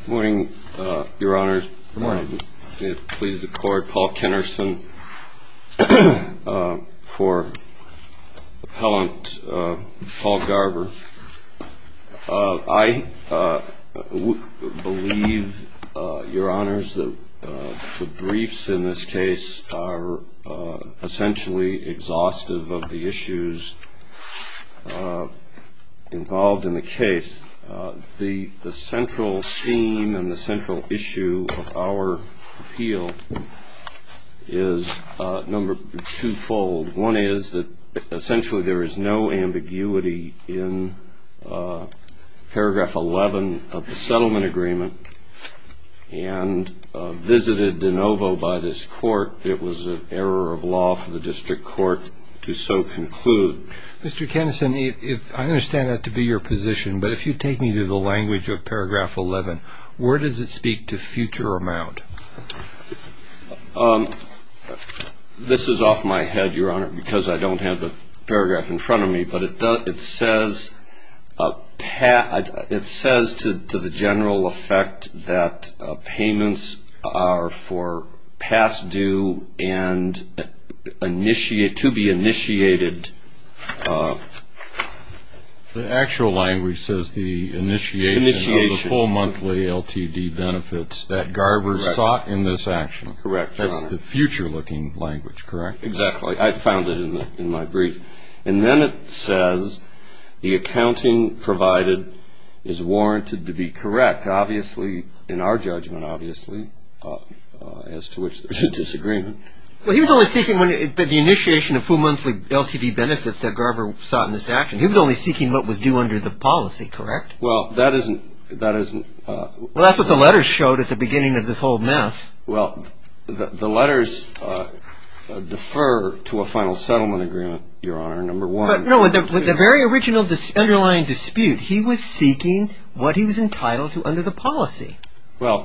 Good morning, Your Honors. May it please the Court, Paul Kennerson for Appellant Paul Garver. I believe, Your Honors, that the briefs in this case are essentially exhaustive of the issues involved in the case. The central theme and the central issue of our appeal is twofold. One is that essentially there is no ambiguity in paragraph 11 of the settlement agreement, and visited de novo by this Court it was an error of law for the district court to so conclude. Mr. Kennerson, I understand that to be your position, but if you take me to the language of paragraph 11, where does it speak to future amount? This is off my head, Your Honor, because I don't have the paragraph in front of me, but it says to the general effect that payments are for past due and to be initiated. The actual language says the initiation of the full monthly LTD benefits that Garver sought in this action. Correct, Your Honor. That's the future-looking language, correct? Exactly. I found it in my brief. And then it says the accounting provided is warranted to be correct. Obviously, in our judgment, obviously, as to which there's a disagreement. Well, he was only seeking the initiation of full monthly LTD benefits that Garver sought in this action. He was only seeking what was due under the policy, correct? Well, that isn't... Well, that's what the letters showed at the beginning of this whole mess. Well, the letters defer to a final settlement agreement, Your Honor, number one. No, in the very original underlying dispute, he was seeking what he was entitled to under the policy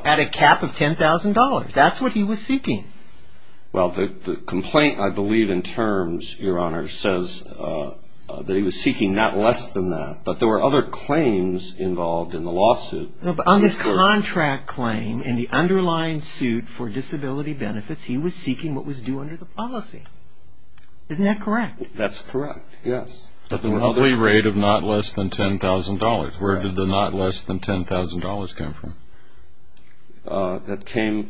at a cap of $10,000. That's what he was seeking. Well, the complaint, I believe, in terms, Your Honor, says that he was seeking not less than that, but there were other claims involved in the lawsuit. No, but on this contract claim, in the underlying suit for disability benefits, he was seeking what was due under the policy. Isn't that correct? That's correct, yes. At the monthly rate of not less than $10,000. Where did the not less than $10,000 come from? That came,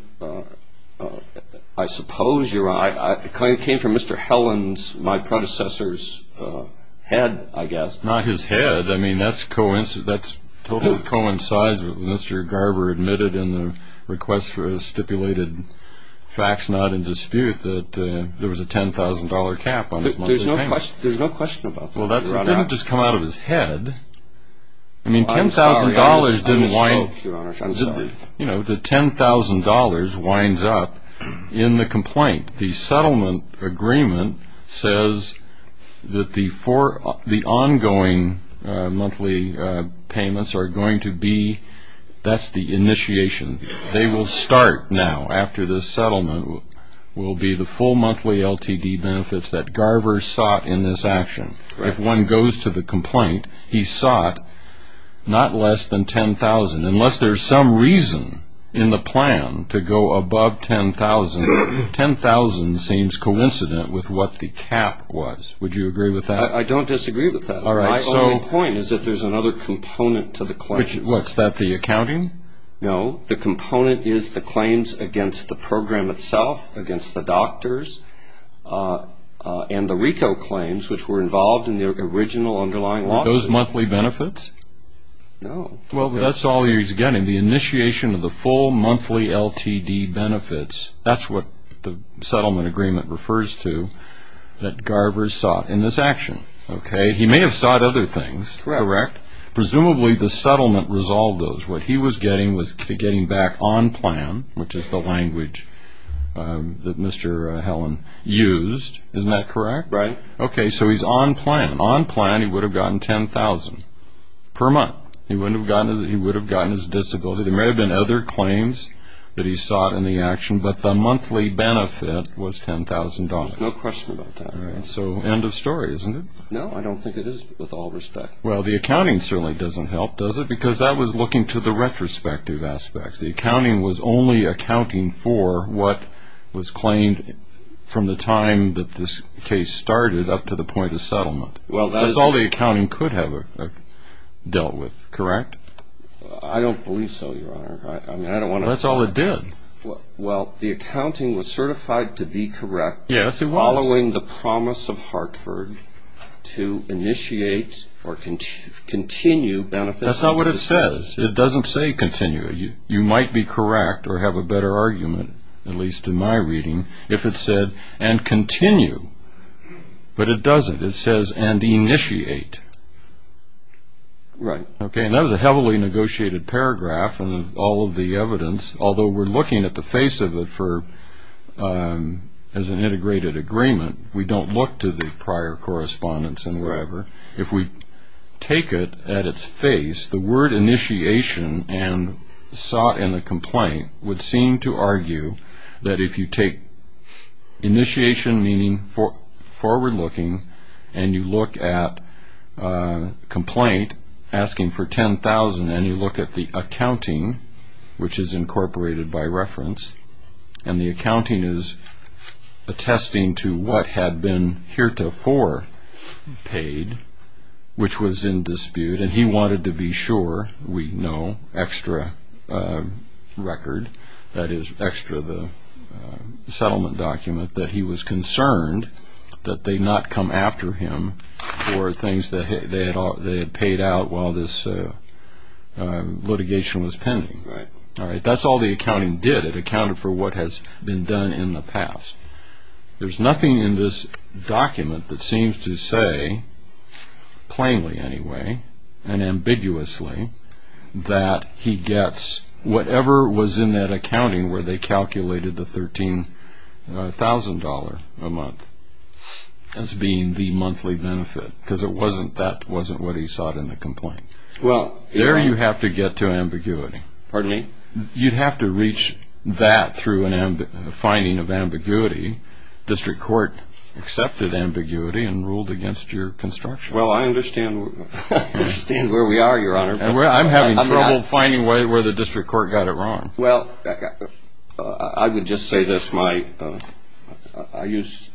I suppose, Your Honor, it came from Mr. Helland's, my predecessor's, head, I guess. Not his head. I mean, that totally coincides with what Mr. Garber admitted in the request for a stipulated fax, not in dispute, that there was a $10,000 cap on his monthly payments. There's no question about that. Well, that didn't just come out of his head. I mean, $10,000 didn't wind... I'm sorry, Your Honor, I'm sorry. You know, the $10,000 winds up in the complaint. The settlement agreement says that the ongoing monthly payments are going to be, that's the initiation. They will start now, after this settlement, will be the full monthly LTD benefits that Garber sought in this action. If one goes to the complaint, he sought not less than $10,000. Unless there's some reason in the plan to go above $10,000, $10,000 seems coincident with what the cap was. Would you agree with that? I don't disagree with that. My only point is that there's another component to the claim. What's that, the accounting? No. The component is the claims against the program itself, against the doctors, and the RICO claims, which were involved in the original underlying lawsuit. Those monthly benefits? No. Well, that's all he's getting, the initiation of the full monthly LTD benefits. That's what the settlement agreement refers to, that Garber sought in this action, okay? He may have sought other things, correct? Correct. Presumably the settlement resolved those. What he was getting was getting back on plan, which is the language that Mr. Helen used, isn't that correct? Right. Okay, so he's on plan. On plan, he would have gotten $10,000 per month. He would have gotten his disability. There may have been other claims that he sought in the action, but the monthly benefit was $10,000. There's no question about that. All right, so end of story, isn't it? No, I don't think it is, with all respect. Well, the accounting certainly doesn't help, does it? Because that was looking to the retrospective aspects. The accounting was only accounting for what was claimed from the time that this case started up to the point of settlement. That's all the accounting could have dealt with, correct? I don't believe so, Your Honor. That's all it did. Well, the accounting was certified to be correct following the promise of Hartford to initiate or continue benefits. That's not what it says. It doesn't say continue. You might be correct or have a better argument, at least in my reading, if it said and continue, but it doesn't. It says and initiate. Right. Okay, and that was a heavily negotiated paragraph in all of the evidence, although we're looking at the face of it as an integrated agreement. We don't look to the prior correspondence and wherever. If we take it at its face, the word initiation and sought in the complaint would seem to argue that if you take initiation, meaning forward-looking, and you look at a complaint asking for $10,000, and you look at the accounting, which is incorporated by reference, and the accounting is attesting to what had been heretofore paid, which was in dispute, and he wanted to be sure, we know, extra record, that is, extra the settlement document, that he was concerned that they not come after him for things that they had paid out while this litigation was pending. Right. All right, that's all the accounting did. It accounted for what has been done in the past. There's nothing in this document that seems to say, plainly, anyway, and ambiguously, that he gets whatever was in that accounting where they calculated the $13,000 a month as being the monthly benefit, because that wasn't what he sought in the complaint. There you have to get to ambiguity. Pardon me? You'd have to reach that through a finding of ambiguity. District court accepted ambiguity and ruled against your construction. Well, I understand where we are, Your Honor. I'm having trouble finding where the district court got it wrong. Well, I would just say this. I used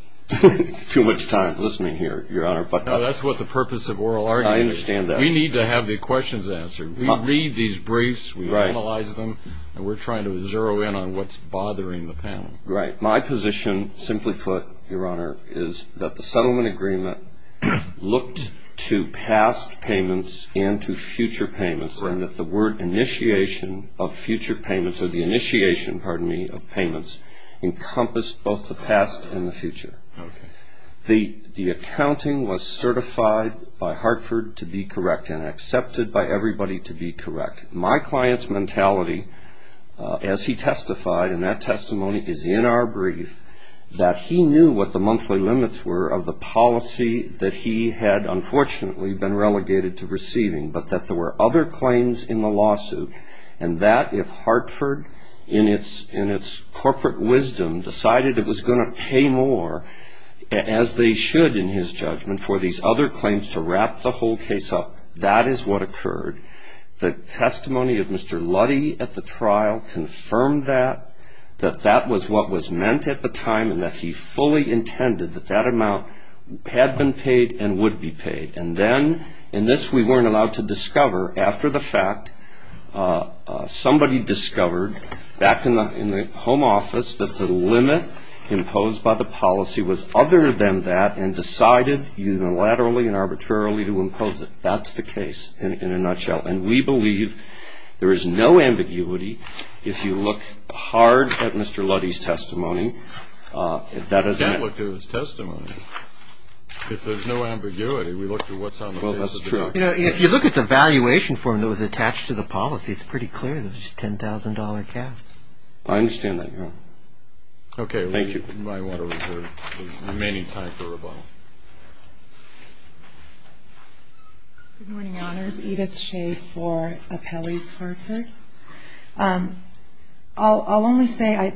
too much time listening here, Your Honor. No, that's what the purpose of oral argument is. I understand that. We need to have the questions answered. We read these briefs, we analyze them, and we're trying to zero in on what's bothering the panel. Right. My position, simply put, Your Honor, is that the settlement agreement looked to past payments and to future payments, and that the word initiation of future payments or the initiation, pardon me, of payments encompassed both the past and the future. Okay. The accounting was certified by Hartford to be correct and accepted by everybody to be correct. My client's mentality, as he testified, and that testimony is in our brief, that he knew what the monthly limits were of the policy that he had, unfortunately, been relegated to receiving, but that there were other claims in the lawsuit, and that if Hartford, in its corporate wisdom, decided it was going to pay more, as they should in his judgment, for these other claims to wrap the whole case up, that is what occurred. The testimony of Mr. Luddy at the trial confirmed that, that that was what was meant at the time, and that he fully intended that that amount had been paid and would be paid. And then, and this we weren't allowed to discover, after the fact, somebody discovered back in the home office that the limit imposed by the policy was other than that and decided unilaterally and arbitrarily to impose it. That's the case in a nutshell. And we believe there is no ambiguity if you look hard at Mr. Luddy's testimony. If that isn't it. We did look at his testimony. If there's no ambiguity, we looked at what's on the basis of that. Well, that's true. You know, if you look at the valuation form that was attached to the policy, it's pretty clear that it was just a $10,000 cap. I understand that, Your Honor. Okay. Thank you. We might want to refer to the remaining time for rebuttal. Good morning, Your Honors. Edith Shea for Apelli-Parker. I'll only say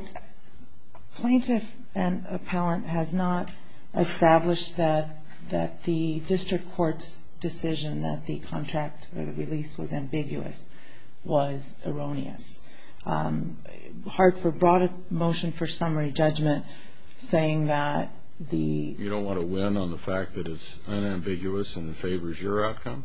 plaintiff and appellant has not established that the district court's decision that the contract or the release was ambiguous was erroneous. Hard for broad motion for summary judgment saying that the ---- You don't want to win on the fact that it's unambiguous and favors your outcome?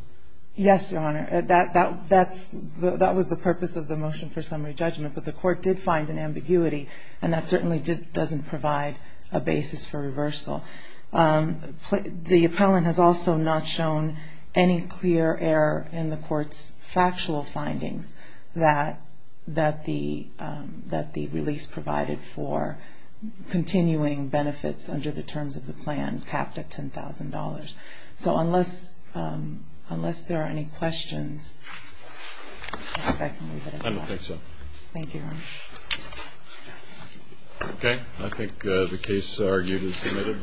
Yes, Your Honor. That was the purpose of the motion for summary judgment. But the court did find an ambiguity, and that certainly doesn't provide a basis for reversal. The appellant has also not shown any clear error in the court's factual findings that the release provided for continuing benefits under the terms of the plan capped at $10,000. So unless there are any questions, I can leave it at that. I don't think so. Thank you, Your Honor. Okay. I think the case argued is submitted then.